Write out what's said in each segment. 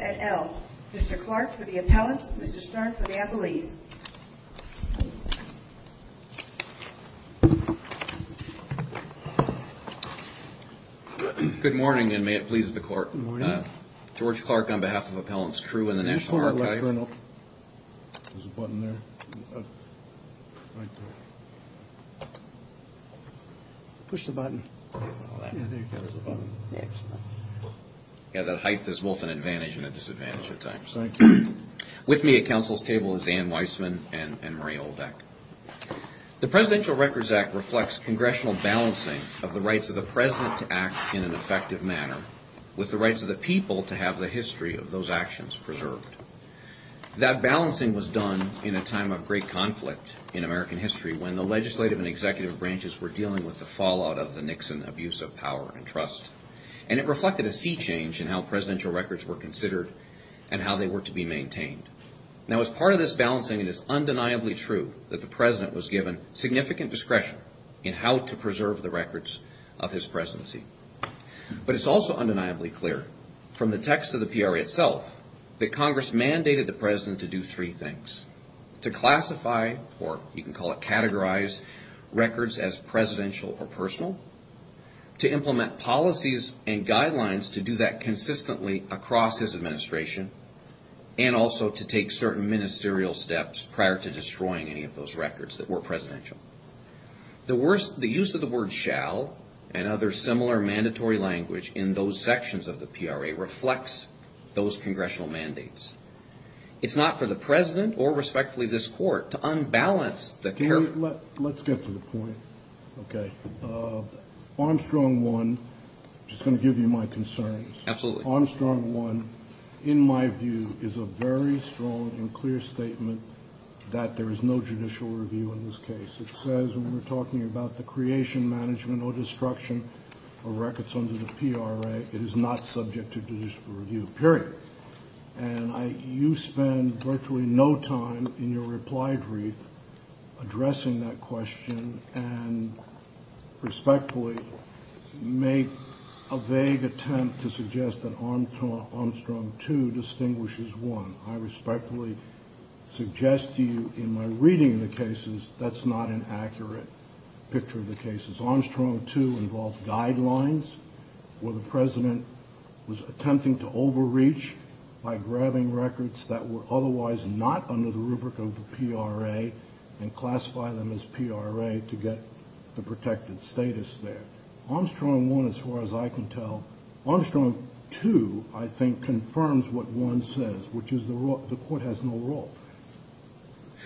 et al. Mr. Clark for the appellants, Mr. Stern for the appellees. Good morning and may it please the court. George Clark on behalf of Appellants True and the National Archive. With me at counsel's table is Anne Weissman and Murray Oldeck. The Presidential Records Act reflects congressional balancing of the rights of the president to act in an effective manner with the rights of the people to have the history of those actions preserved. That balancing was done in a time of great conflict in American history when the legislative and executive branches were dealing with the fallout of the Nixon abuse of power and trust. And it reflected a sea change in how presidential records were considered and how they were to be maintained. Now as part of this balancing, it is undeniably true that the president was given significant discretion in how to preserve the records of his presidency. But it's also undeniably clear from the text of the PRA itself that Congress mandated the president to do three things. To classify or you can call it categorize records as presidential or personal. To implement policies and guidelines to do that consistently across his administration. And also to take certain ministerial steps prior to destroying any of those records that were presidential. The use of the word shall and other similar mandatory language in those sections of the PRA reflects those congressional mandates. It's not for the president or respectfully this court to unbalance the character. Let's get to the point. Armstrong One, just going to give you my concerns. Armstrong One in my view is a very strong and clear statement that there is no judicial review in this case. It says when we're talking about the creation, management, or destruction of records under the PRA, it is not subject to judicial review, period. And you spend virtually no time in your reply brief addressing that question and respectfully make a vague attempt to suggest that Armstrong Two distinguishes one. I respectfully suggest to you in my reading of the cases that's not an accurate picture of the cases. Armstrong Two involved guidelines where the president was attempting to overreach by grabbing records that were otherwise not under the rubric of the PRA and classify them as PRA to get the protected status there. Armstrong One, as far as I can tell, Armstrong Two I think confirms what One says, which is the court has no role.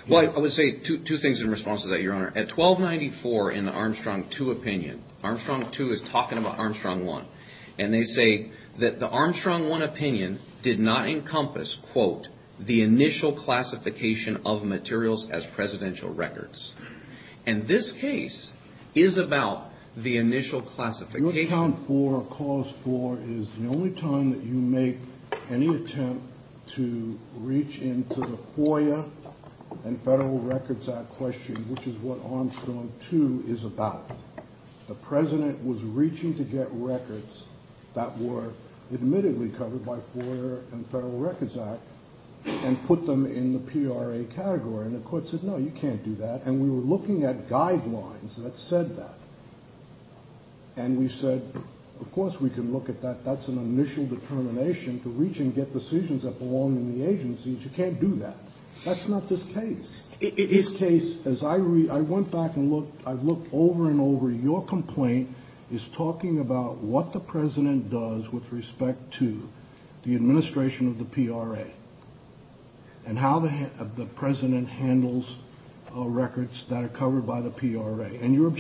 Well, I would say two things in response to that, Your Honor. At 1294 in the Armstrong Two opinion, Armstrong Two is talking about Armstrong One, and they say that the Armstrong One opinion did not encompass, quote, the initial classification of materials as presidential records. And this case is about the initial classification. Your account for Clause Four is the only time that you make any attempt to reach into the FOIA and Federal Records Act question, which is what Armstrong Two is about. The president was reaching to get records that were admittedly covered by FOIA and Federal Records Act and put them in the PRA category. And the court said, no, you can't do that. And we were looking at guidelines that said that. And we said, of course we can look at that. That's an initial determination to reach and get decisions that belong in the agencies. You can't do that. That's not this case. This case, as I read, I went back and looked, I looked over and over. Your complaint is talking about what the president does with respect to the administration of the PRA and how the president handles records that are covered by the PRA. And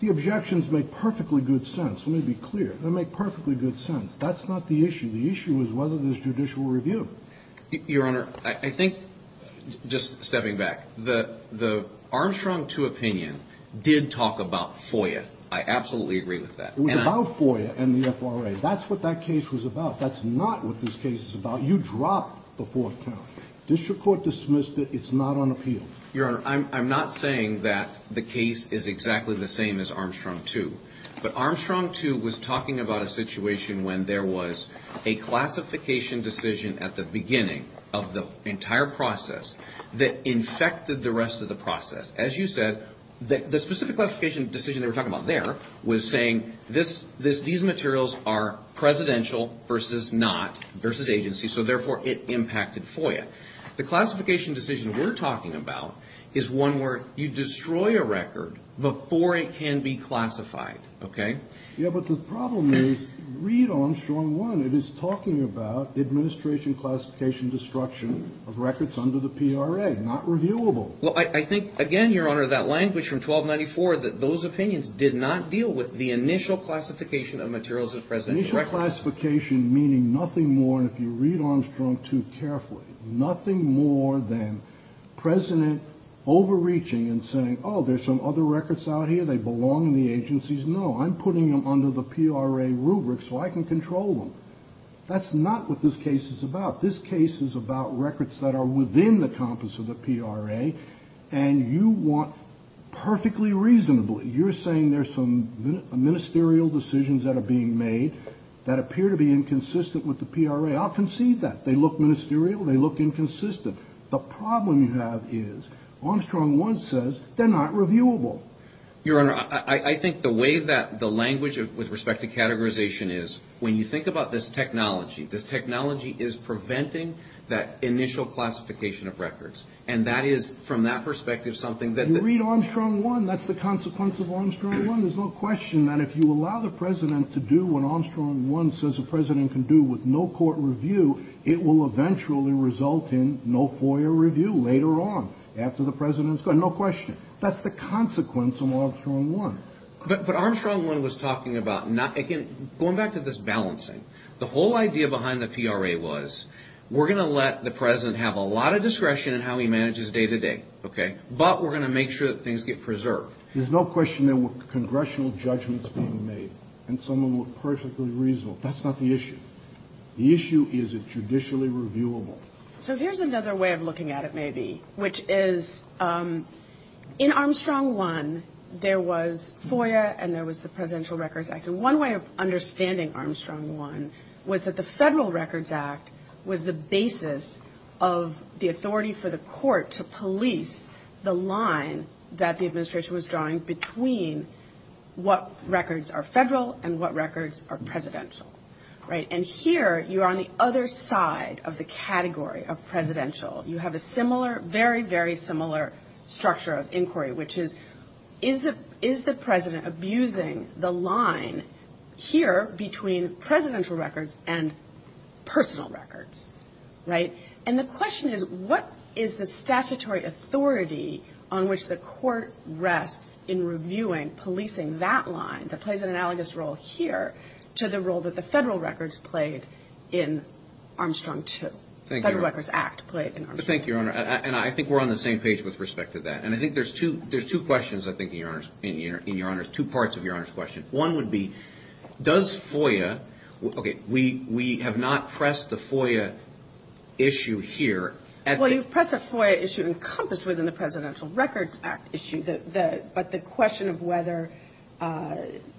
the objections make perfectly good sense. Let me be clear. They make perfectly good sense. That's not the issue. The issue is whether there's judicial review. Your Honor, I think, just stepping back, the Armstrong Two opinion did talk about FOIA. I absolutely agree with that. It was about FOIA and the FRA. That's what that case was about. That's not what this case is about. You dropped the fourth count. Did your court dismiss that it's not on appeal? Your Honor, I'm not saying that the case is exactly the same as Armstrong Two. But Armstrong Two was talking about a situation when there was a classification decision at the beginning of the entire process that infected the rest of the process. As you said, the specific classification decision they were talking about there was saying, these materials are his agency, so therefore it impacted FOIA. The classification decision we're talking about is one where you destroy a record before it can be classified, okay? Yeah, but the problem is, read Armstrong One. It is talking about administration classification destruction of records under the PRA. Not reviewable. Well, I think, again, Your Honor, that language from 1294, that those opinions did not deal with the initial classification of materials of presidential record. Classification meaning nothing more, and if you read Armstrong Two carefully, nothing more than president overreaching and saying, oh, there's some other records out here, they belong in the agencies. No, I'm putting them under the PRA rubric so I can control them. That's not what this case is about. This case is about records that are within the compass of the PRA, and you want perfectly reasonably, you're saying there's some ministerial decisions that are being made that appear to be inconsistent with the PRA. I'll concede that. They look ministerial, they look inconsistent. The problem you have is, Armstrong One says they're not reviewable. Your Honor, I think the way that the language with respect to categorization is, when you think about this technology, this technology is preventing that initial classification of records, and that is, from that perspective, something that... You read Armstrong One, that's the consequence of Armstrong One. There's no question that if you allow the president to do what Armstrong One says the president can do with no court review, it will eventually result in no FOIA review later on, after the president's gone. No question. That's the consequence of Armstrong One. But Armstrong One was talking about, going back to this balancing, the whole idea behind the PRA was, we're going to let the president have a lot of discretion in how he manages day to day, but we're going to make sure that things get preserved. There's no question there were congressional judgments being made, and some of them were perfectly reasonable. That's not the issue. The issue is, is it judicially reviewable? So here's another way of looking at it, maybe, which is, in Armstrong One, there was FOIA and there was the Presidential Records Act, and one way of understanding Armstrong One was that the Federal Records Act was the basis of the authority for the court to police the line that the administration was drawing between what records are federal and what records are presidential. And here, you're on the other side of the category of presidential. You have a similar, very, very similar structure of inquiry, which is, is the president abusing the line here between presidential records and personal records? Right? And the question is, what is the statutory authority on which the court rests in reviewing policing that line that plays an analogous role here to the role that the Federal Records played in Armstrong Two? Federal Records Act played in Armstrong Two. Thank you, Your Honor. And I think we're on the same page with respect to that. And I think there's two questions, I think, in Your Honor's, two parts of Your Honor's question. One would be, does FOIA, okay, we, we have not pressed the FOIA issue here at the... Well, you've pressed a FOIA issue encompassed within the Presidential Records Act issue, but the question of whether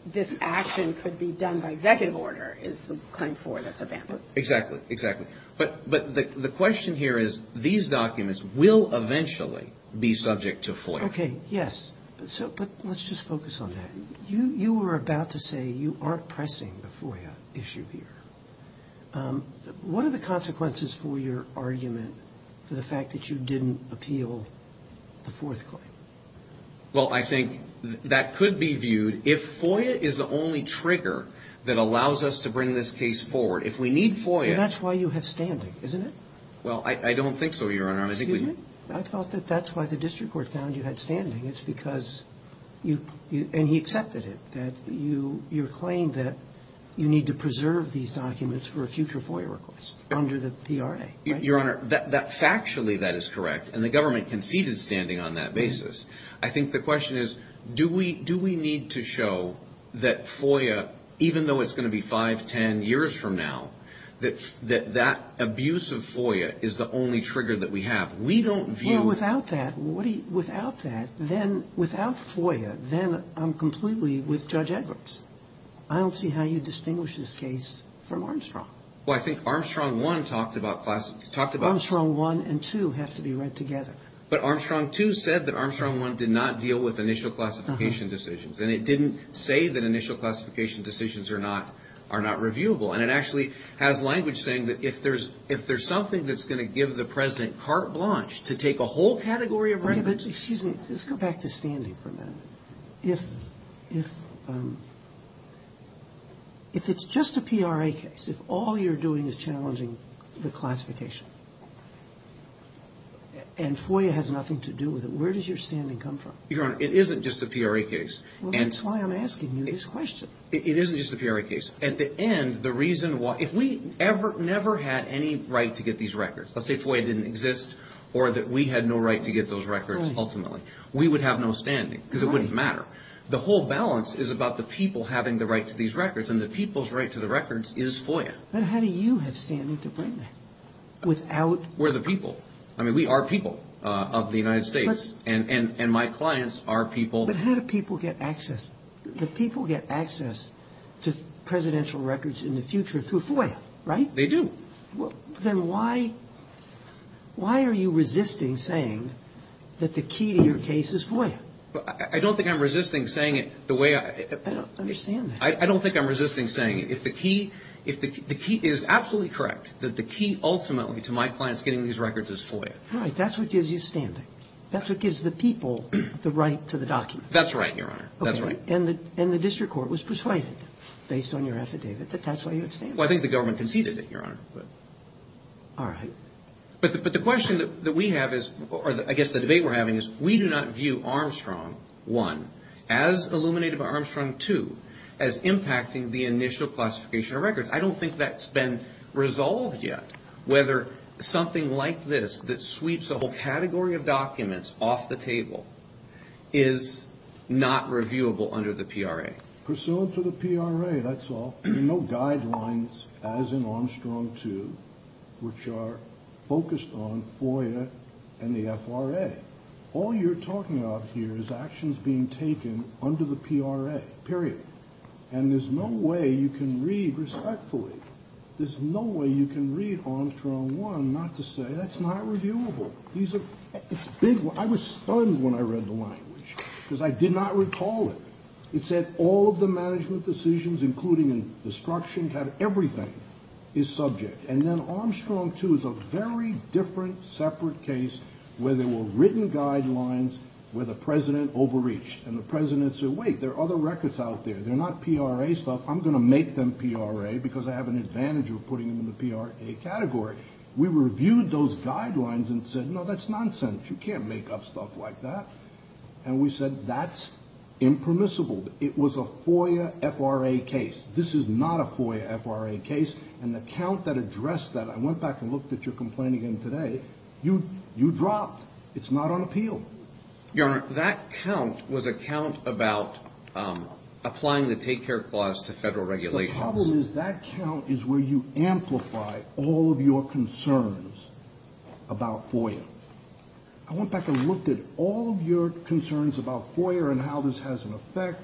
this action could be done by executive order is the claim for that's abandoned. Exactly, exactly. But, but the, the question here is, these documents will eventually be subject to FOIA. Okay, yes. So, but let's just focus on that. You, you were about to say you aren't pressing the FOIA issue here. What are the consequences for your argument for the fact that you didn't appeal the fourth claim? Well, I think that could be viewed, if FOIA is the only trigger that allows us to bring this case forward. If we need FOIA... That's why you have standing, isn't it? Well, I, I don't think so, Your Honor. I think we... You have standing. It's because you, you, and he accepted it, that you, your claim that you need to preserve these documents for a future FOIA request under the PRA, right? Your Honor, that, that factually, that is correct, and the government conceded standing on that basis. I think the question is, do we, do we need to show that FOIA, even though it's going to be 5, 10 years from now, that, that, that abuse of FOIA is the only trigger that we have? We don't view... If I don't see that, then, without FOIA, then I'm completely with Judge Edwards. I don't see how you distinguish this case from Armstrong. Well, I think Armstrong 1 talked about class, talked about... Armstrong 1 and 2 have to be read together. But Armstrong 2 said that Armstrong 1 did not deal with initial classification decisions, and it didn't say that initial classification decisions are not, are not reviewable. And it actually has language saying that if there's, if there's something that's going to give the President carte blanche to take a whole category of... Yeah, but, excuse me, let's go back to standing for a minute. If, if, if it's just a PRA case, if all you're doing is challenging the classification, and FOIA has nothing to do with it, where does your standing come from? Your Honor, it isn't just a PRA case. Well, that's why I'm asking you this question. It isn't just a PRA case. At the end, the reason why, if we ever, never had any right to get these records, let's say FOIA didn't exist, or that we had no right to get those records, ultimately, we would have no standing, because it wouldn't matter. The whole balance is about the people having the right to these records, and the people's right to the records is FOIA. But how do you have standing to bring that? Without... We're the people. I mean, we are people of the United States, and, and, and my clients are people... But how do people get access? The people get access to presidential records in the future through FOIA, right? They do. Well, then why, why are you resisting saying that the key to your case is FOIA? I don't think I'm resisting saying it the way I... I don't understand that. I don't think I'm resisting saying it. If the key, if the key is absolutely correct, that the key ultimately to my clients getting these records is FOIA. Right. That's what gives you standing. That's what gives the people the right to the document. That's right, Your Honor. That's right. Okay. And the, and the district court was persuaded, based on your affidavit, that that's why you had standing. Well, I think, well, I think the government conceded it, Your Honor, but... All right. But the, but the question that we have is, or I guess the debate we're having is, we do not view Armstrong, one, as illuminated by Armstrong, two, as impacting the initial classification of records. I don't think that's been resolved yet, whether something like this that sweeps a whole category of documents off the table is not reviewable under the PRA. Okay. Pursuant to the PRA, that's all. There are no guidelines as in Armstrong, two, which are focused on FOIA and the FRA. All you're talking about here is actions being taken under the PRA, period. And there's no way you can read respectfully, there's no way you can read Armstrong, one, not to say that's not reviewable. These are, it's big, I was All of the management decisions, including in destruction, have everything is subject. And then Armstrong, two, is a very different, separate case where there were written guidelines where the president overreached. And the president said, wait, there are other records out there. They're not PRA stuff. I'm going to make them PRA because I have an advantage of putting them in the PRA category. We reviewed those guidelines and said, no, that's nonsense. You can't make up stuff like that. And we said, that's impermissible. It was a FOIA FRA case. This is not a FOIA FRA case. And the count that addressed that, I went back and looked at your complaint again today, you dropped. It's not on appeal. Your Honor, that count was a count about applying the take care clause to federal regulations. The problem is that count is where you amplify all of your concerns about FOIA. I went back and looked at all of your concerns about FOIA and how this has an effect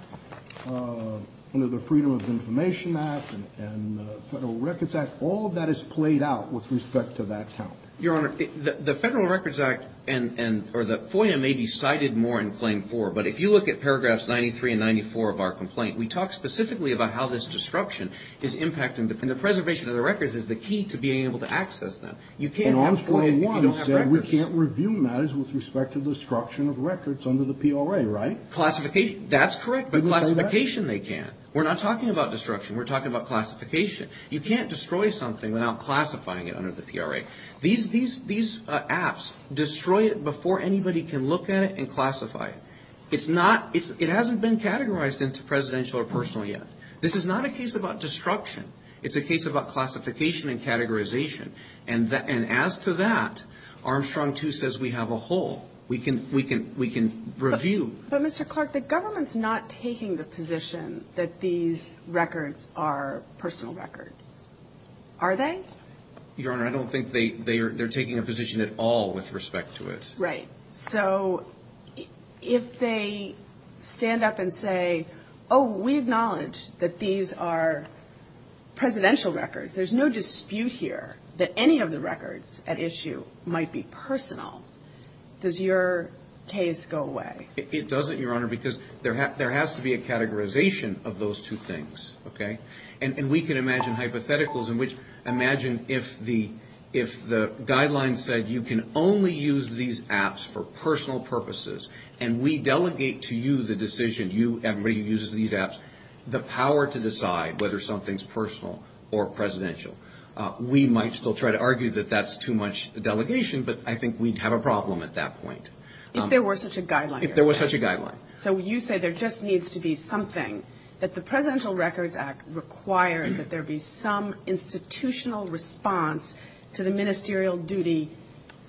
under the Freedom of Information Act and the Federal Records Act. All of that is played out with respect to that count. Your Honor, the Federal Records Act and, or the FOIA may be cited more in claim four, but if you look at paragraphs 93 and 94 of our complaint, we talk specifically about how this disruption is impacting. And the preservation of the records is the key to being able to access them. You can't have FOIA if you don't have records. And Arms 41 said we can't review matters with respect to the destruction of records under the PRA, right? Classification, that's correct, but classification they can. We're not talking about destruction. We're talking about classification. You can't destroy something without classifying it under the PRA. These apps destroy it before anybody can look at it and classify it. It hasn't been categorized into presidential or personal yet. This is not a case about destruction. It's a case about classification and categorization. And as to that, Armstrong too says we have a hole. We can review. But Mr. Clark, the government's not taking the position that these records are personal records. Are they? Your Honor, I don't think they're taking a position at all with respect to it. Right. So if they stand up and say, oh, we acknowledge that these are presidential records. There's no dispute here that any of the records at issue might be personal. Does your case go away? It doesn't, Your Honor, because there has to be a categorization of those two things, okay? And we can imagine hypotheticals in which imagine if the guidelines said you can only use these apps for personal purposes, and we delegate to you the decision, you, everybody who uses these apps, the power to decide whether something's personal or presidential. We might still try to argue that that's too much delegation, but I think we'd have a problem at that point. If there were such a guideline? If there was such a guideline. So you say there just needs to be something, that the Presidential Records Act requires that there be some institutional response to the ministerial duty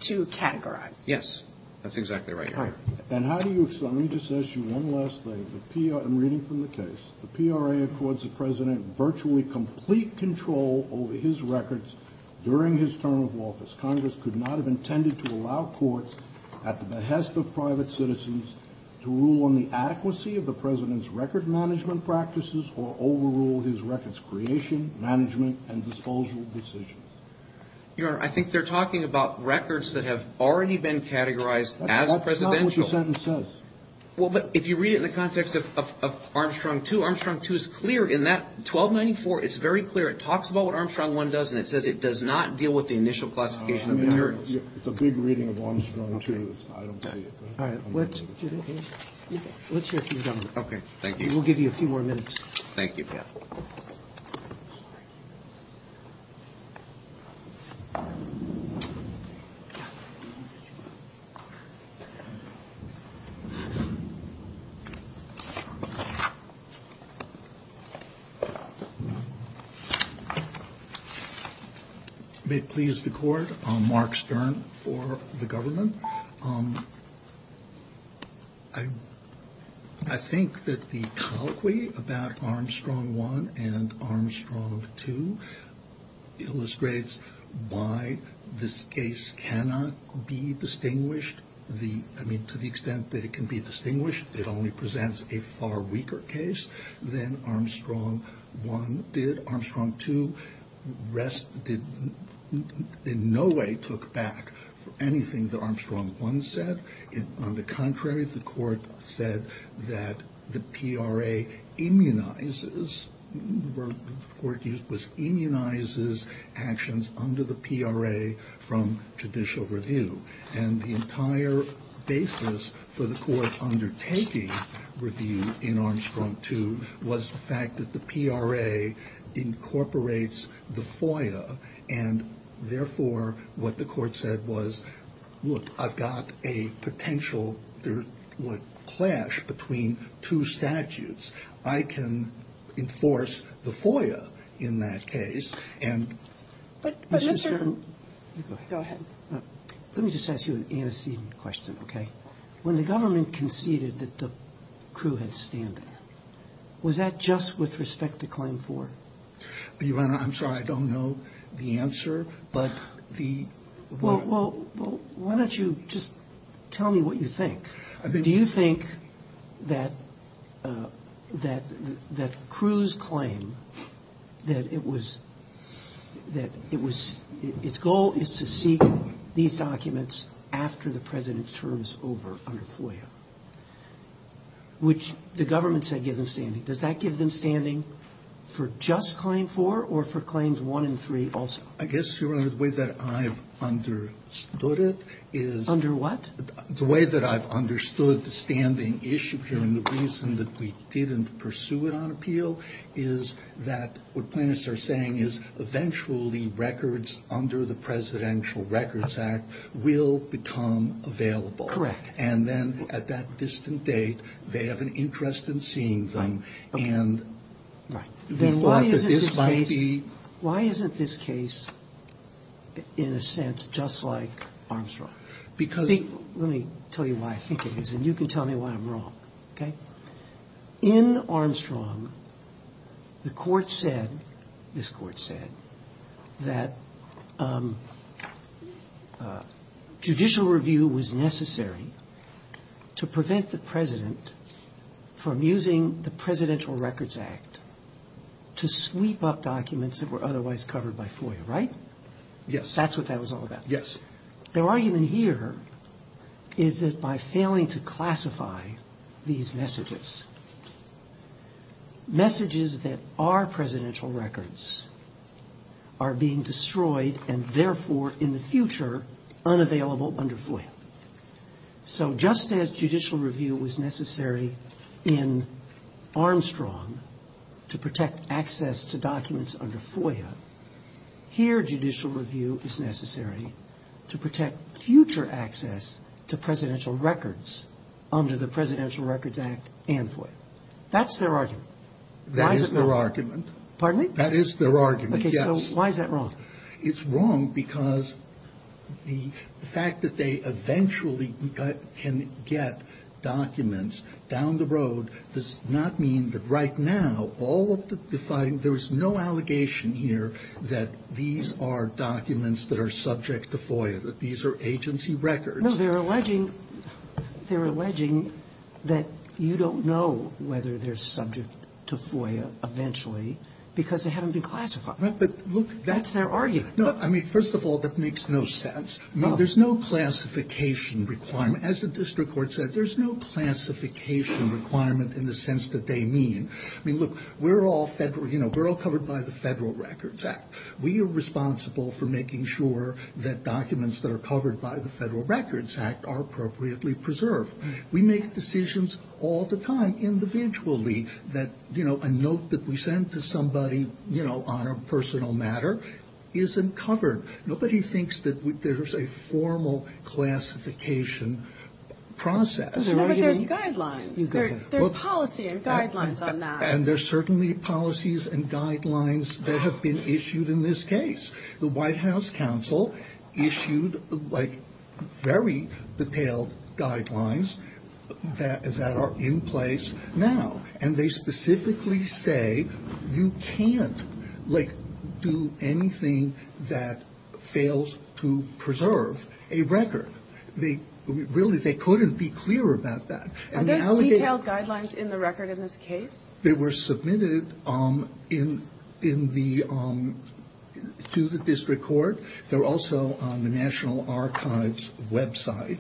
to categorize? Yes. That's exactly right, Your Honor. And how do you explain this issue? One last thing. I'm reading from the case. The PRA accords the President virtually complete control over his records during his term of office. Congress could not have intended to allow courts at the behest of private citizens to rule on the adequacy of the President's record management practices or overrule his records, creation, management, and disposal decisions. Your Honor, I think they're talking about records that have already been categorized as presidential. That's not what the sentence says. Well, but if you read it in the context of Armstrong 2, Armstrong 2 is clear in that 1294. It's very clear. It talks about what Armstrong 1 does, and it says it does not deal with the initial classification of materials. It's a big reading of Armstrong 2. I don't see it. Let's hear from the Governor. Okay. Thank you. We'll give you a few more minutes. Thank you, Pat. May it please the Court, I'm Mark Stern for the Government. I think that the colloquy about Armstrong 1 and Armstrong 2 illustrates why this case cannot be distinguished. I mean, to the extent that it can be distinguished, it only presents a far weaker case than Armstrong 1 did. Armstrong 2 in no way took back anything that Armstrong 1 said. On the contrary, the Court said that the PRA immunizes actions under the PRA from judicial review. And the entire basis for the Court undertaking review in Armstrong 2 was the fact that the PRA incorporates the FOIA, and therefore, what the Court said was, look, I've got a potential there would clash between two statutes. I can enforce the FOIA in that case, and Mr. Stern go ahead. Let me just ask you an antecedent question, okay? When the Government conceded that the crew had stand-in, was that just with respect to Claim 4? Your Honor, I'm sorry, I don't know the answer, but the... Well, why don't you just tell me what you think? Do you think that the crew's claim that its goal is to seek these documents after the President's term is over under FOIA, which the Government said gives them standing? Does that give them standing for just Claim 4 or for Claims 1 and 3 also? I guess, Your Honor, the way that I've understood it is... Under what? The way that I've understood the standing issue here, and the reason that we didn't pursue it on appeal, is that what plaintiffs are saying is eventually records under the Presidential Records Act will become available. Correct. And then at that distant date, they have an interest in seeing them, and we thought that this might be... Why isn't this case, in a sense, just like Armstrong? Because... Let me tell you why I think it is, and you can tell me why I'm wrong, okay? In Armstrong, the Court said, this Court said, that judicial review was necessary to prevent the President from using the Presidential Records Act to sweep up documents that were otherwise covered by FOIA, right? Yes. That's what that was all about. Yes. And their argument here is that by failing to classify these messages, messages that are Presidential Records are being destroyed, and therefore, in the future, unavailable under FOIA. So just as judicial review was necessary in Armstrong to protect access to future access to Presidential Records under the Presidential Records Act and FOIA. That's their argument. That is their argument. Pardon me? That is their argument, yes. Okay. So why is that wrong? It's wrong because the fact that they eventually can get documents down the road does not mean that right now, all of the defining, there's no allegation here that these are subject to FOIA, that these are agency records. No, they're alleging, they're alleging that you don't know whether they're subject to FOIA eventually because they haven't been classified. Right, but look, that's their argument. No, I mean, first of all, that makes no sense. No. There's no classification requirement. As the district court said, there's no classification requirement in the sense that they mean. I mean, look, we're all Federal, you know, we're all covered by the Federal Records Act. We are responsible for making sure that documents that are covered by the Federal Records Act are appropriately preserved. We make decisions all the time individually that, you know, a note that we send to somebody, you know, on a personal matter isn't covered. Nobody thinks that there's a formal classification process. No, but there's guidelines. There's policy and guidelines on that. And there's certainly policies and guidelines that have been issued in this case. The White House counsel issued, like, very detailed guidelines that are in place now. And they specifically say you can't, like, do anything that fails to preserve a record. Really, they couldn't be clearer about that. Are those detailed guidelines in the record in this case? They were submitted in the – to the district court. They're also on the National Archives website.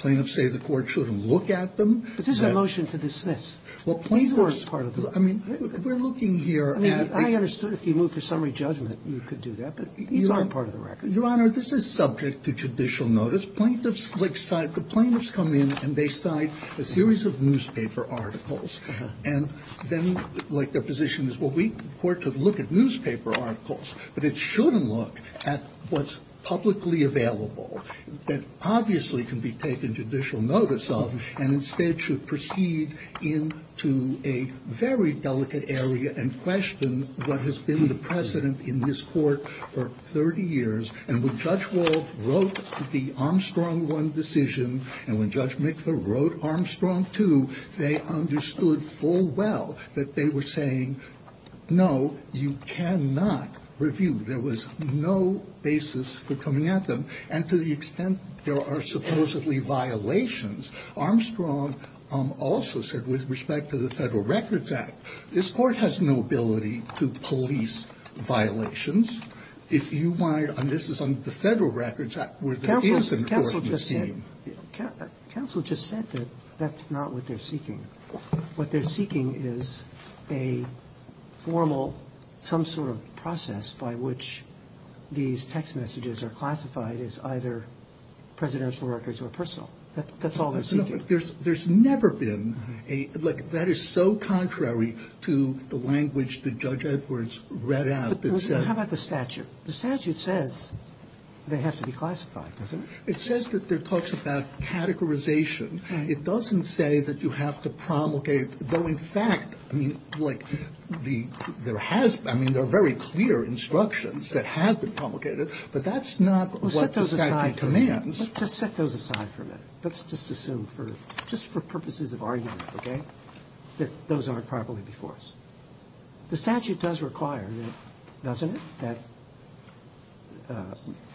Plaintiffs say the court shouldn't look at them. But this is a motion to dismiss. Well, plaintiffs – These weren't part of the – I mean, we're looking here at – I mean, I understood if you moved for summary judgment, you could do that. But these aren't part of the record. Your Honor, this is subject to judicial notice. Plaintiffs, like, the plaintiffs come in and they cite a series of newspaper articles. And then, like, their position is, well, we – the court could look at newspaper articles. But it shouldn't look at what's publicly available, that obviously can be taken judicial notice of, and instead should proceed into a very delicate area and question what has been the precedent in this court for 30 years. And when Judge Wald wrote the Armstrong I decision, and when Judge Mikva wrote Armstrong II, they understood full well that they were saying, no, you cannot review. There was no basis for coming at them. And to the extent there are supposedly violations, Armstrong also said, with respect to the Federal Records Act, this court has no ability to police violations. If you wanted – and this is under the Federal Records Act, where there is an enforcement scheme. Counsel just said that that's not what they're seeking. What they're seeking is a formal – some sort of process by which these text messages are classified as either presidential records or personal. That's all they're seeking. There's never been a – like, that is so contrary to the language that Judge Edwards read out that said – How about the statute? The statute says they have to be classified, doesn't it? It says that there are talks about categorization. It doesn't say that you have to promulgate – though, in fact, I mean, like, there has – I mean, there are very clear instructions that have been promulgated, but that's not what the statute commands. Well, set those aside for a minute. Let's just set those aside for a minute. Let's just assume for – just for purposes of argument, okay, that those aren't properly before us. The statute does require, doesn't it,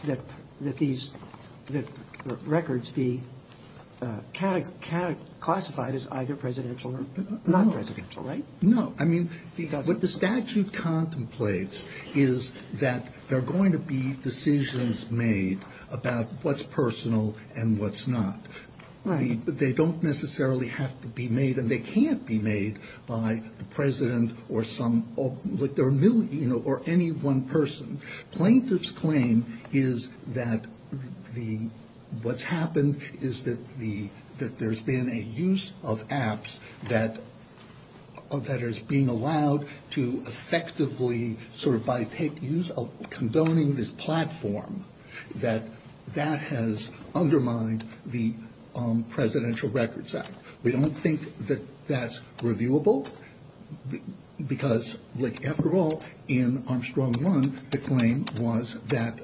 that these records be classified as either presidential or non-presidential, right? No. I mean, what the statute contemplates is that there are going to be decisions made about what's personal and what's not. Right. They don't necessarily have to be made, and they can't be made by the president or some – or any one person. Plaintiff's claim is that the – what's happened is that the – that there's been a use of apps that is being allowed to effectively sort of by – condoning this platform, that that has undermined the Presidential Records Act. We don't think that that's reviewable because, like, after all, in Armstrong 1, the claim was that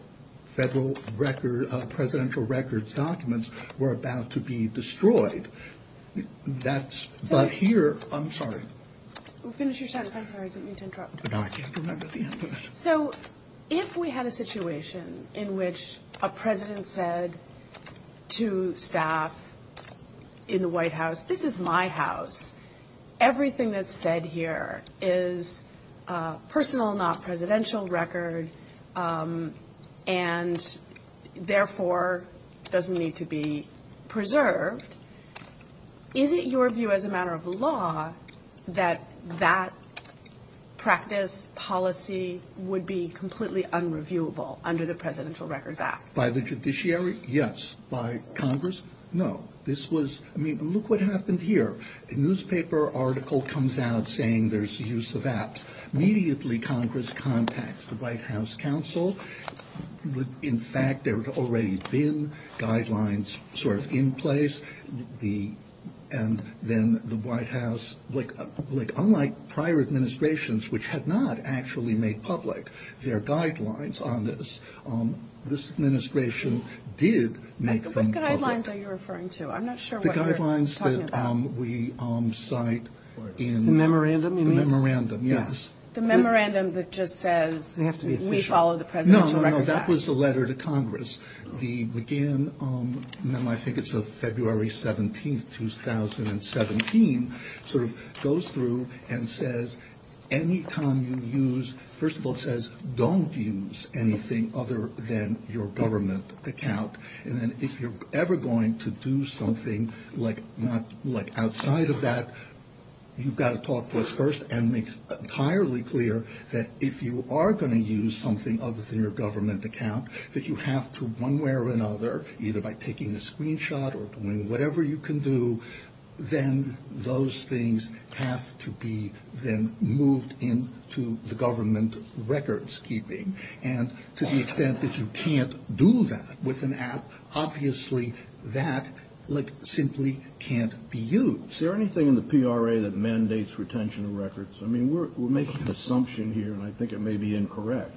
federal record – presidential records documents were about to be destroyed. That's – but here – I'm sorry. Finish your sentence. I'm sorry. I didn't mean to interrupt. No, I can't remember the end of it. So if we had a situation in which a president said to staff in the White House, this is my house, everything that's said here is personal, not presidential record, and therefore doesn't need to be preserved, is it your view as a matter of law that that practice, policy would be completely unreviewable under the Presidential Records Act? By the judiciary? Yes. By Congress? No. This was – I mean, look what happened here. A newspaper article comes out saying there's use of apps. Immediately, Congress contacts the White House Counsel. In fact, there had already been guidelines sort of in place. The – and then the White House – like, unlike prior administrations, which had not actually made public their guidelines on this, this administration did make them public. What guidelines are you referring to? I'm not sure what you're talking about. The memorandum you mean? The memorandum, yes. The memorandum that just says we follow the Presidential Records Act? No, no, no. That was the letter to Congress. The McGinn memo – I think it's of February 17th, 2017 – sort of goes through and says any time you use – first of all, it says don't use anything other than your government account. And then if you're ever going to do something like not – like outside of that, you've got to talk to us first and make it entirely clear that if you are going to use something other than your government account, that you have to one way or another, either by taking a screenshot or doing whatever you can do, then those things have to be then moved into the government records keeping. And to the extent that you can't do that with an app, obviously that, like, simply can't be used. Is there anything in the PRA that mandates retention of records? I mean, we're making an assumption here, and I think it may be incorrect.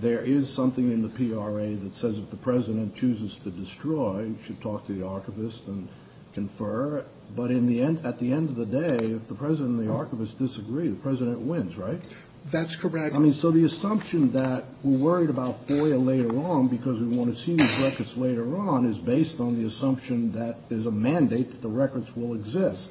There is something in the PRA that says if the President chooses to destroy, you should talk to the archivist and confer. But at the end of the day, if the President and the archivist disagree, the President wins, right? That's correct. I mean, so the assumption that we're worried about FOIA later on because we want to see these records later on is based on the assumption that there's a mandate that the records will exist.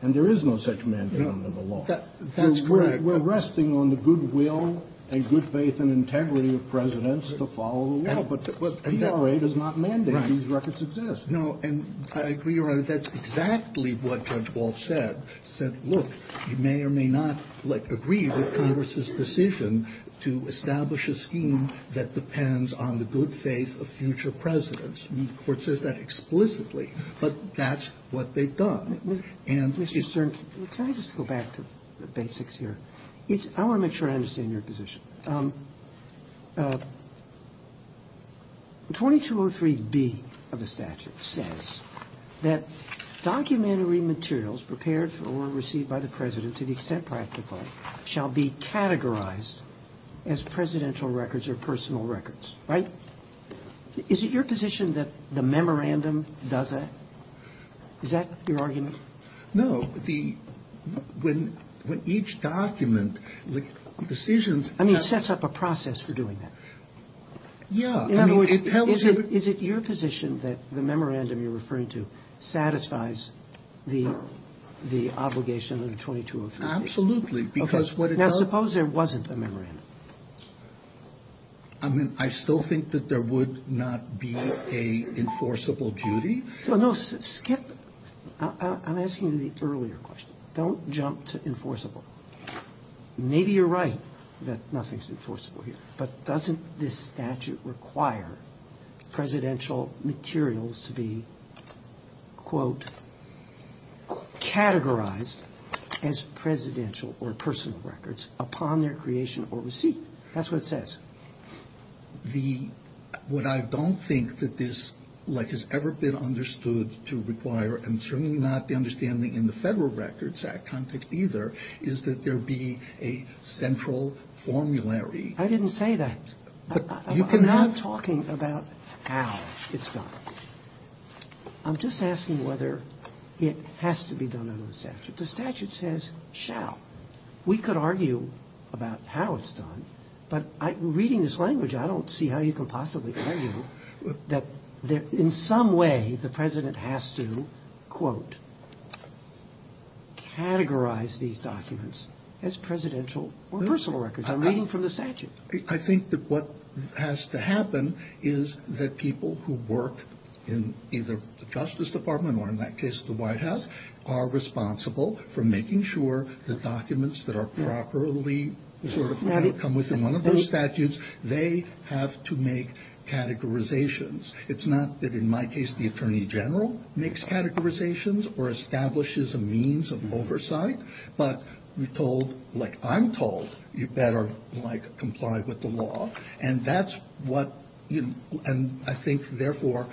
And there is no such mandate under the law. That's correct. We're resting on the goodwill and good faith and integrity of Presidents to follow the law. But the PRA does not mandate these records exist. No, and I agree, Your Honor, that's exactly what Judge Walsh said. He said, look, you may or may not agree with Congress's decision to establish a scheme that depends on the good faith of future Presidents. And the Court says that explicitly. But that's what they've done. Mr. Stern, can I just go back to basics here? I want to make sure I understand your position. 2203b of the statute says that documentary materials prepared or received by the President to the extent practical shall be categorized as Presidential records or personal records, right? Is it your position that the memorandum does that? Is that your argument? No. The – when each document – the decisions – I mean, it sets up a process for doing that. Yeah. In other words, is it your position that the memorandum you're referring to satisfies the obligation under 2203b? Absolutely. Because what it does – Now, suppose there wasn't a memorandum. I mean, I still think that there would not be an enforceable duty. No, skip – I'm asking you the earlier question. Don't jump to enforceable. Maybe you're right that nothing's enforceable here. But doesn't this statute require presidential materials to be, quote, categorized as Presidential or personal records upon their creation or receipt? That's what it says. The – what I don't think that this, like, has ever been understood to require and certainly not the understanding in the Federal Records Act context either is that there be a central formulary. I didn't say that. I'm not talking about how it's done. I'm just asking whether it has to be done under the statute. The statute says, shall. We could argue about how it's done, but reading this language, I don't see how you can possibly argue that in some way the President has to, quote, categorize these documents as presidential or personal records. I'm reading from the statute. I think that what has to happen is that people who work in either the Justice Department or, in that case, the White House, are responsible for making sure the documents that are properly, sort of, come within one of those statutes, they have to make categorizations. It's not that, in my case, the Attorney General makes categorizations or establishes a means of oversight. But you're told, like I'm told, you better, like, comply with the law. And that's what, and I think, therefore,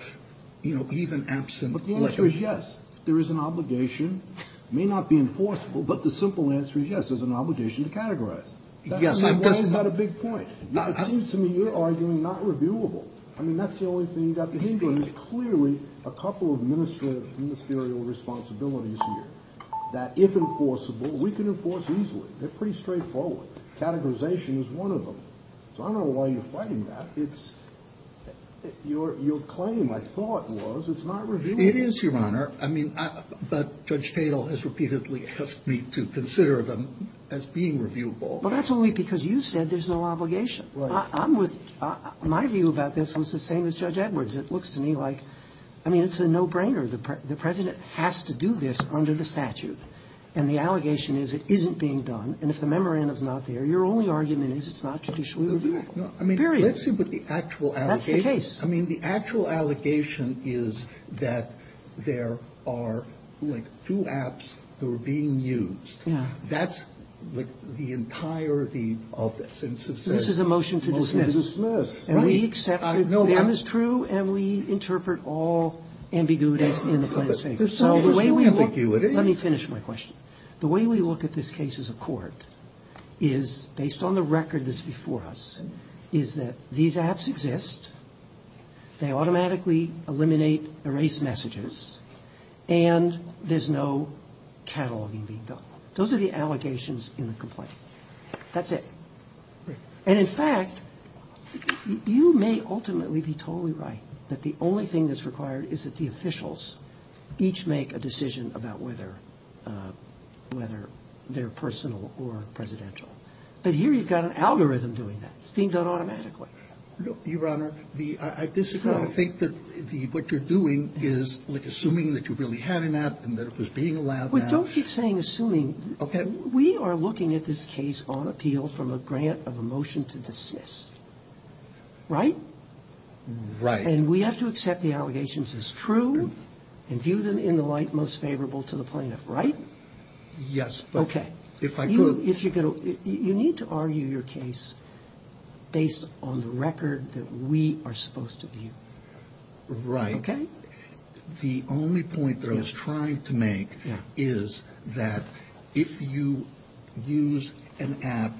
you know, even absent legal. But the answer is yes. There is an obligation. It may not be enforceable, but the simple answer is yes, there's an obligation to categorize. Yes, I'm just. That's not a big point. It seems to me you're arguing not reviewable. I mean, that's the only thing you've got to think about. Clearly, a couple of ministerial responsibilities here that, if enforceable, we can enforce easily. They're pretty straightforward. Categorization is one of them. So I don't know why you're fighting that. It's, your claim, I thought, was it's not reviewable. It is, Your Honor. I mean, but Judge Tatel has repeatedly asked me to consider them as being reviewable. Well, that's only because you said there's no obligation. Right. I'm with, my view about this was the same as Judge Edwards. It looks to me like, I mean, it's a no-brainer. The President has to do this under the statute. And the allegation is it isn't being done. And if the memorandum's not there, your only argument is it's not judicially reviewable. Period. No, I mean, let's see what the actual allegation is. That's the case. I mean, the actual allegation is that there are, like, two apps that were being used. Yeah. That's, like, the entirety of this. This is a motion to dismiss. Motion to dismiss. Right. And we accept that there is true, and we interpret all ambiguities in the plaintiff's favor. There's no ambiguity. Let me finish my question. The way we look at this case as a court is, based on the record that's before us, is that these apps exist, they automatically eliminate, erase messages, and there's no cataloging being done. Those are the allegations in the complaint. That's it. Right. And, in fact, you may ultimately be totally right that the only thing that's required is that the officials each make a decision about whether they're personal or presidential. But here you've got an algorithm doing that. It's being done automatically. Your Honor, I disagree. I think that what you're doing is, like, assuming that you really had an app and that it was being allowed that. Don't keep saying assuming. Okay. We are looking at this case on appeal from a grant of a motion to dismiss. Right? Right. And we have to accept the allegations as true and view them in the light most favorable to the plaintiff, right? Yes. Okay. If I could. You need to argue your case based on the record that we are supposed to view. Right. Okay? The only point that I was trying to make is that if you use an app,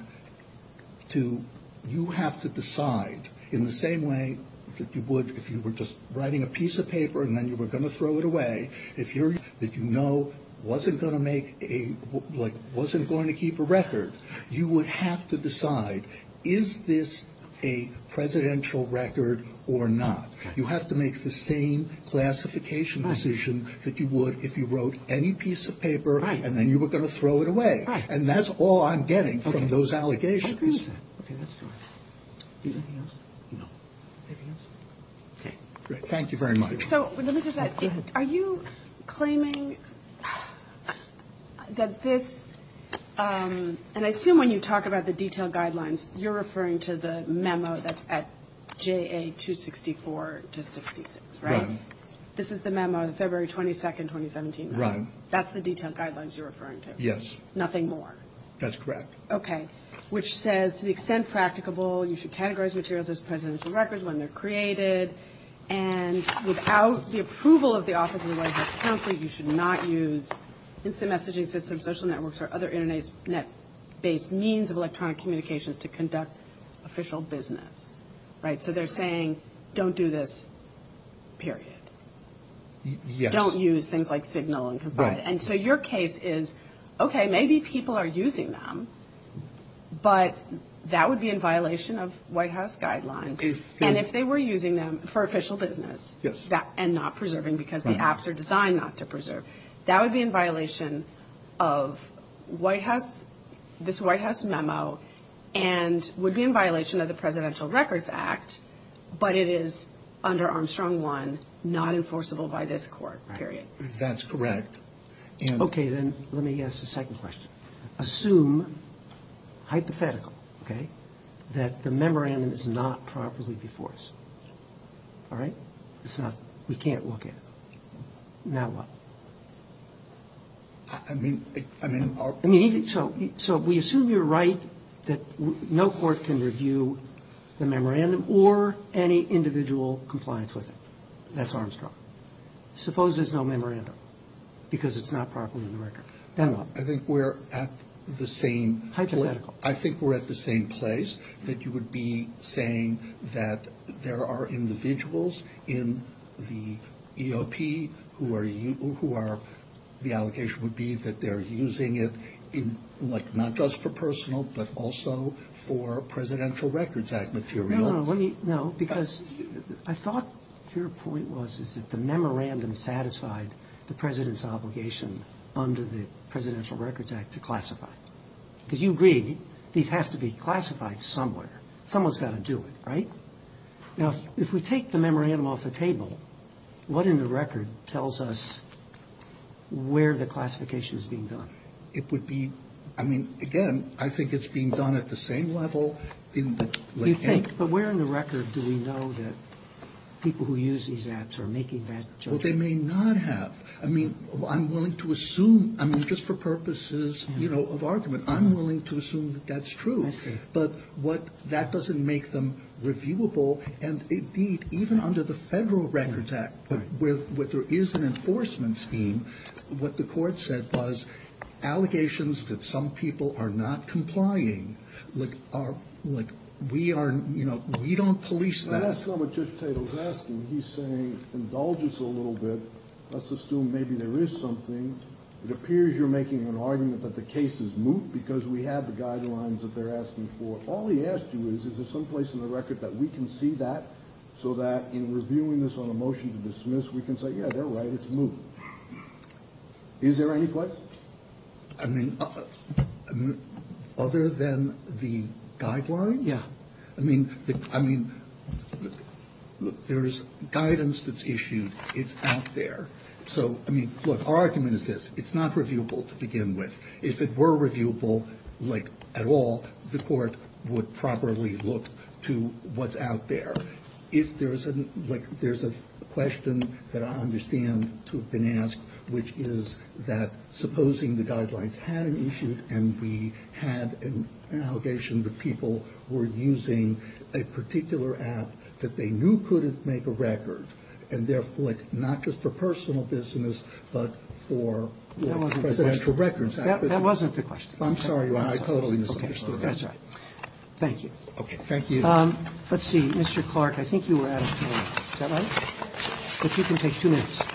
you have to decide in the same way that you would if you were just writing a piece of paper and then you were going to throw it away, that you know wasn't going to keep a record. You would have to decide, is this a presidential record or not? You have to make the same classification decision that you would if you wrote any piece of paper and then you were going to throw it away. Right. And that's all I'm getting from those allegations. Okay. Anything else? No. Anything else? Okay. Great. Thank you very much. So let me just add. Go ahead. Are you claiming that this, and I assume when you talk about the detailed guidelines, you're referring to the memo that's at JA 264 to 66, right? Right. This is the memo, the February 22, 2017 memo. Right. That's the detailed guidelines you're referring to? Yes. Nothing more? That's correct. Okay. Which says, to the extent practicable, you should categorize materials as presidential records when they're created and without the approval of the Office of the White House Counsel, you should not use instant messaging systems, social networks, or other Internet-based means of electronic communications to conduct official business. Right? So they're saying, don't do this, period. Yes. Don't use things like Signal and Confide. Right. And so your case is, okay, maybe people are using them, but that would be in violation of White House guidelines. And if they were using them for official business and not preserving because the apps are designed not to preserve, that would be in violation of this White House memo and would be in violation of the Presidential Records Act, but it is under Armstrong 1, not enforceable by this court, period. That's correct. Okay. Then let me ask a second question. Assume, hypothetical, okay, that the memorandum is not properly enforced. All right? It's not, we can't look at it. Now what? I mean, I mean, So we assume you're right that no court can review the memorandum or any individual compliance with it. That's Armstrong. Suppose there's no memorandum because it's not properly in the record. Then what? I think we're at the same point. Hypothetical. I think we're at the same place that you would be saying that there are individuals in the EOP who are, the allocation would be that they're using it in like not just for personal but also for Presidential Records Act material. No, no, no. No, because I thought your point was is that the memorandum satisfied the President's obligation under the Presidential Records Act to classify. Because you agreed these have to be classified somewhere. Someone's got to do it, right? Now, if we take the memorandum off the table, what in the record tells us where the classification is being done? It would be, I mean, again, I think it's being done at the same level. You think, but where in the record do we know that people who use these apps are making that judgment? Well, they may not have. I mean, I'm willing to assume, I mean, just for purposes of argument, I'm willing to assume that that's true. But that doesn't make them reviewable. And indeed, even under the Federal Records Act where there is an enforcement scheme, what the Court said was allegations that some people are not complying like we are, you know, we don't police that. That's not what Judge Tatel's asking. He's saying, indulge us a little bit. Let's assume maybe there is something. It appears you're making an argument that the case is moot because we have the guidelines that they're asking for. All he asked you is, is there someplace in the record that we can see that so that in reviewing this on a motion to dismiss we can say, yeah, they're right, it's moot. Is there any place? I mean, other than the guideline? Yeah. I mean, there's guidance that's issued. It's out there. So, I mean, look, our argument is this. It's not reviewable to begin with. If it were reviewable, like, at all, the Court would properly look to what's out there. If there's a question that I understand to have been asked, which is that supposing the guidelines had been issued and we had an allegation that people were using a particular app that they knew couldn't make a record, and therefore, like, not just for personal business, but for presidential records. That wasn't the question. I'm sorry. I totally misunderstood that. That's all right. Thank you. Okay, thank you. Let's see. Mr. Clark, I think you were out of time. Is that right? But you can take two minutes. Okay.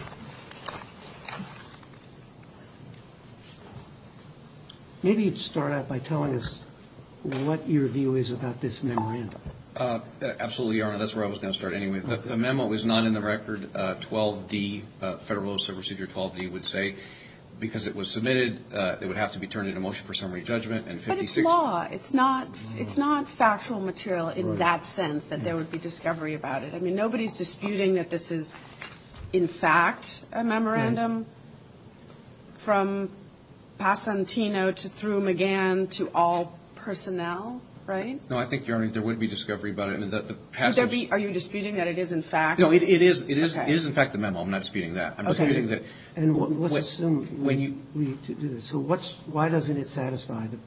Maybe you'd start out by telling us what your view is about this memorandum. Absolutely, Your Honor. That's where I was going to start anyway. The memo is not in the record. 12D, Federal Rules of Procedure 12D would say because it was submitted, it would have to be turned into motion for summary judgment. But it's law. It's not factual material in that sense that there would be discovery about it. I mean, nobody's disputing that this is, in fact, a memorandum from Passantino to through McGann to all personnel, right? No, I think, Your Honor, there would be discovery about it. Would there be? Are you disputing that it is, in fact? No, it is, in fact, the memo. I'm not disputing that. Okay. I'm disputing that. And let's assume when you do this. So why doesn't it satisfy the president's category?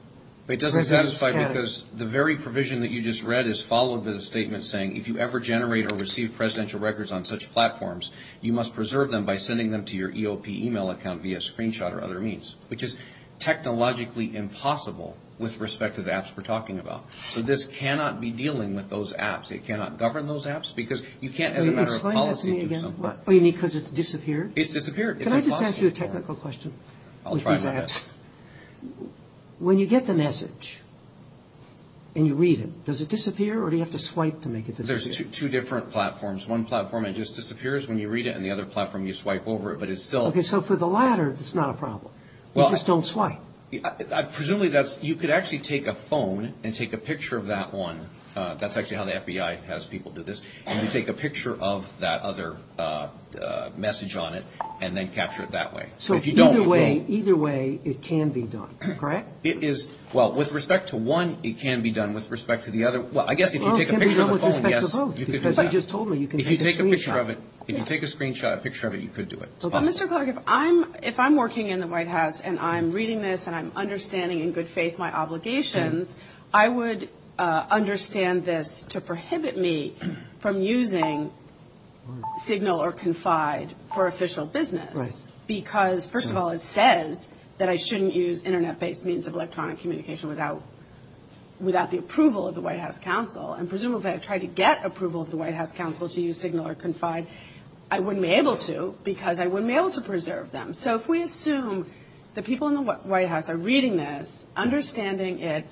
It doesn't satisfy because the very provision that you just read is followed by the statement saying if you ever generate or receive presidential records on such platforms, you must preserve them by sending them to your EOP email account via screenshot or other means, which is technologically impossible with respect to the apps we're talking about. So this cannot be dealing with those apps. It cannot govern those apps because you can't, as a matter of policy, do something. Oh, you mean because it's disappeared? It's disappeared. Can I just ask you a technical question? I'll try my best. When you get the message and you read it, does it disappear or do you have to swipe to make it disappear? There's two different platforms. One platform, it just disappears when you read it, and the other platform, you swipe over it, but it's still... Okay. So for the latter, it's not a problem. You just don't swipe. Presumably, you could actually take a phone and take a picture of that one. That's actually how the FBI has people do this. And you take a picture of that other message on it and then capture it that way. So either way, either way, it can be done. Correct? It is... Well, with respect to one, it can be done. With respect to the other... Well, I guess if you take a picture of the phone, yes, you could do that. Because you just told me you can take a screenshot. If you take a screenshot, a picture of it, you could do it. It's possible. Well, Mr. Clark, if I'm working in the White House and I'm reading this and I'm understanding in good faith my obligations, I would understand this to prohibit me for official business because, first of all, it says that I shouldn't use Internet-based means of electronic communication without the approval of the FBI. Right. Right. Right. But if I don't have the approval of the White House Counsel and presumably if I try to get approval of the White House Counsel to use Signal or Confide, I wouldn't be able to because I wouldn't be able to preserve them. So if we assume the people in the White House are reading this, understanding it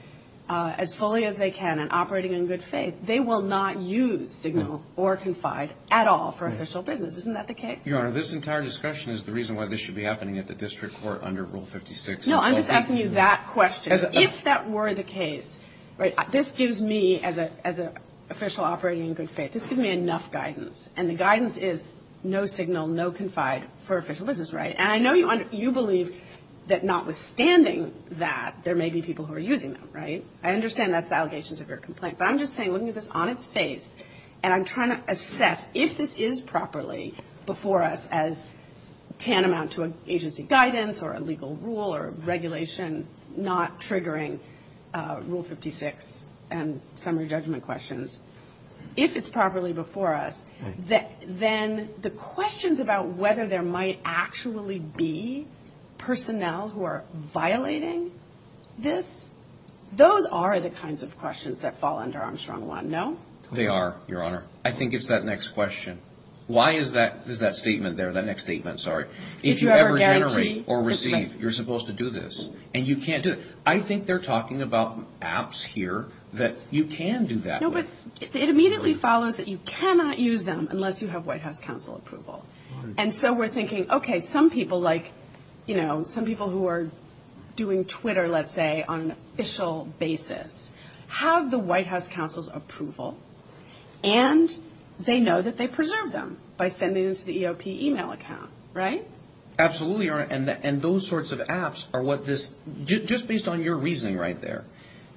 as fully as they can and operating in good faith, they will not use Signal or Confide at all for official business. Isn't that the case? Your Honor, this entire discussion is the reason why this should be happening at the District Court under Rule 56. No, I'm just asking you that question. If that were the case, right, this gives me as an official operating in good faith, this gives me enough guidance and the guidance is no Signal, no Confide for official business, right? And I know you believe that notwithstanding that there may be people who are using them, right? I understand that's the allegations of your complaint but I'm just saying looking at this on its face and I'm trying to assess if this is properly before us as tantamount to agency guidance or a legal rule or regulation not triggering Rule 56 and summary judgment questions. If it's properly before us then the questions about whether there might actually be personnel who are violating this, those are the kinds of questions that fall under Armstrong 1, no? They are, Your Honor. I think it's that next question. Why is that statement there, that next statement, I'm sorry. If you ever generate or receive you're supposed to do this and you can't do it. I think they're talking about apps here that you can do that with. No, but it immediately follows that you cannot use them unless you have White House Council approval and so we're thinking, okay, some people like, you know, some people who are doing Twitter, let's say, on an official basis have the White House Council's approval and they know that they preserve them by sending them to the EOP email account, right? Absolutely, Your Honor, and those sorts of apps are what this, just based on your reasoning right there,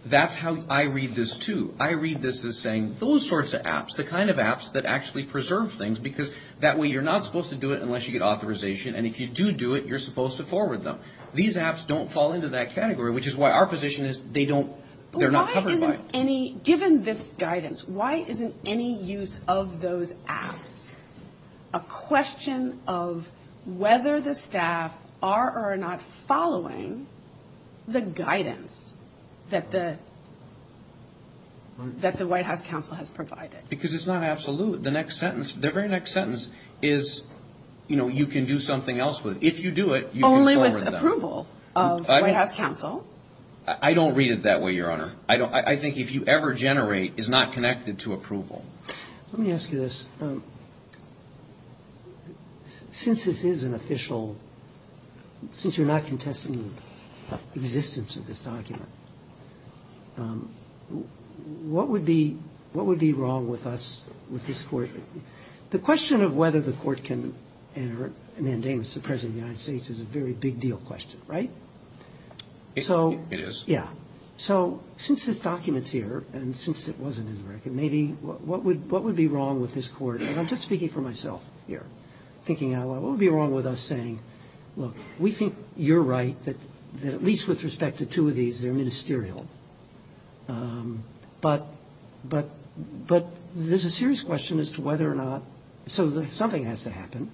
that's how I read this too. I read this as saying those sorts of apps, the kind of apps that actually preserve things because that way you're not supposed to do it unless you get authorization and if you do do it you're supposed to forward them. These apps don't fall into that category which is why our position is they don't, they're not covered by it. Well why isn't any, given this guidance, why isn't any use of those apps a question of whether the staff are or are not following the guidance that the White House counsel has provided? Because it's not absolute. The next sentence, the very next sentence is you can do something else with it. If you do it you can forward them. Only with approval of White House counsel? I don't read it that way Your Honor. I think if you ever generate a complaint it's not going to be an official complaint. It's not connected to approval. Let me ask you this. Since this is an official, since you're not contesting existence of this document, what would be wrong with us saying look, we think you're right that at least with respect to two but but there's a serious problem with this court. The question of whether the court can enter a mandate with document is a serious question as to whether or not so something has to happen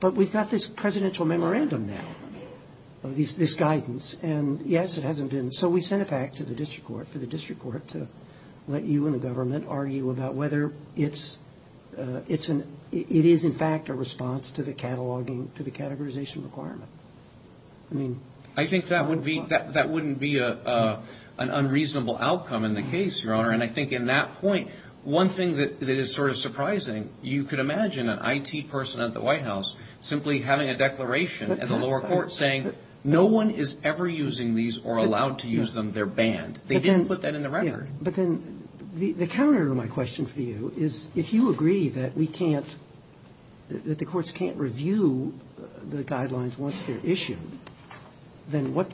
but we've got this presidential memorandum now this guidance and yes it hasn't been so we sent that back to the district court to let you and the government argue about whether it is in fact a response to the categorization requirement. I think that wouldn't be an unreasonable outcome in the case your honor and I think in that case they're banned they didn't put that in the record. But then the counter to my question for you is if you agree that we can't that the courts can't review the guidelines once they're issued then what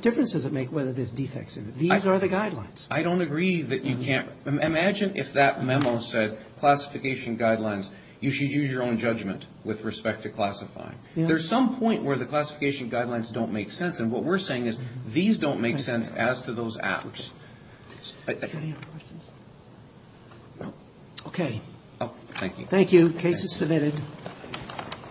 difference does it make whether there's defects and these are the guidelines. I don't agree that you can't imagine if that memo said classification guidelines you should use your own judgment with respect to classifying. There's some point where the classification guidelines don't make sense and what we're saying is these don't make sense as to how to classify those acts. Okay. Thank you. Case is submitted.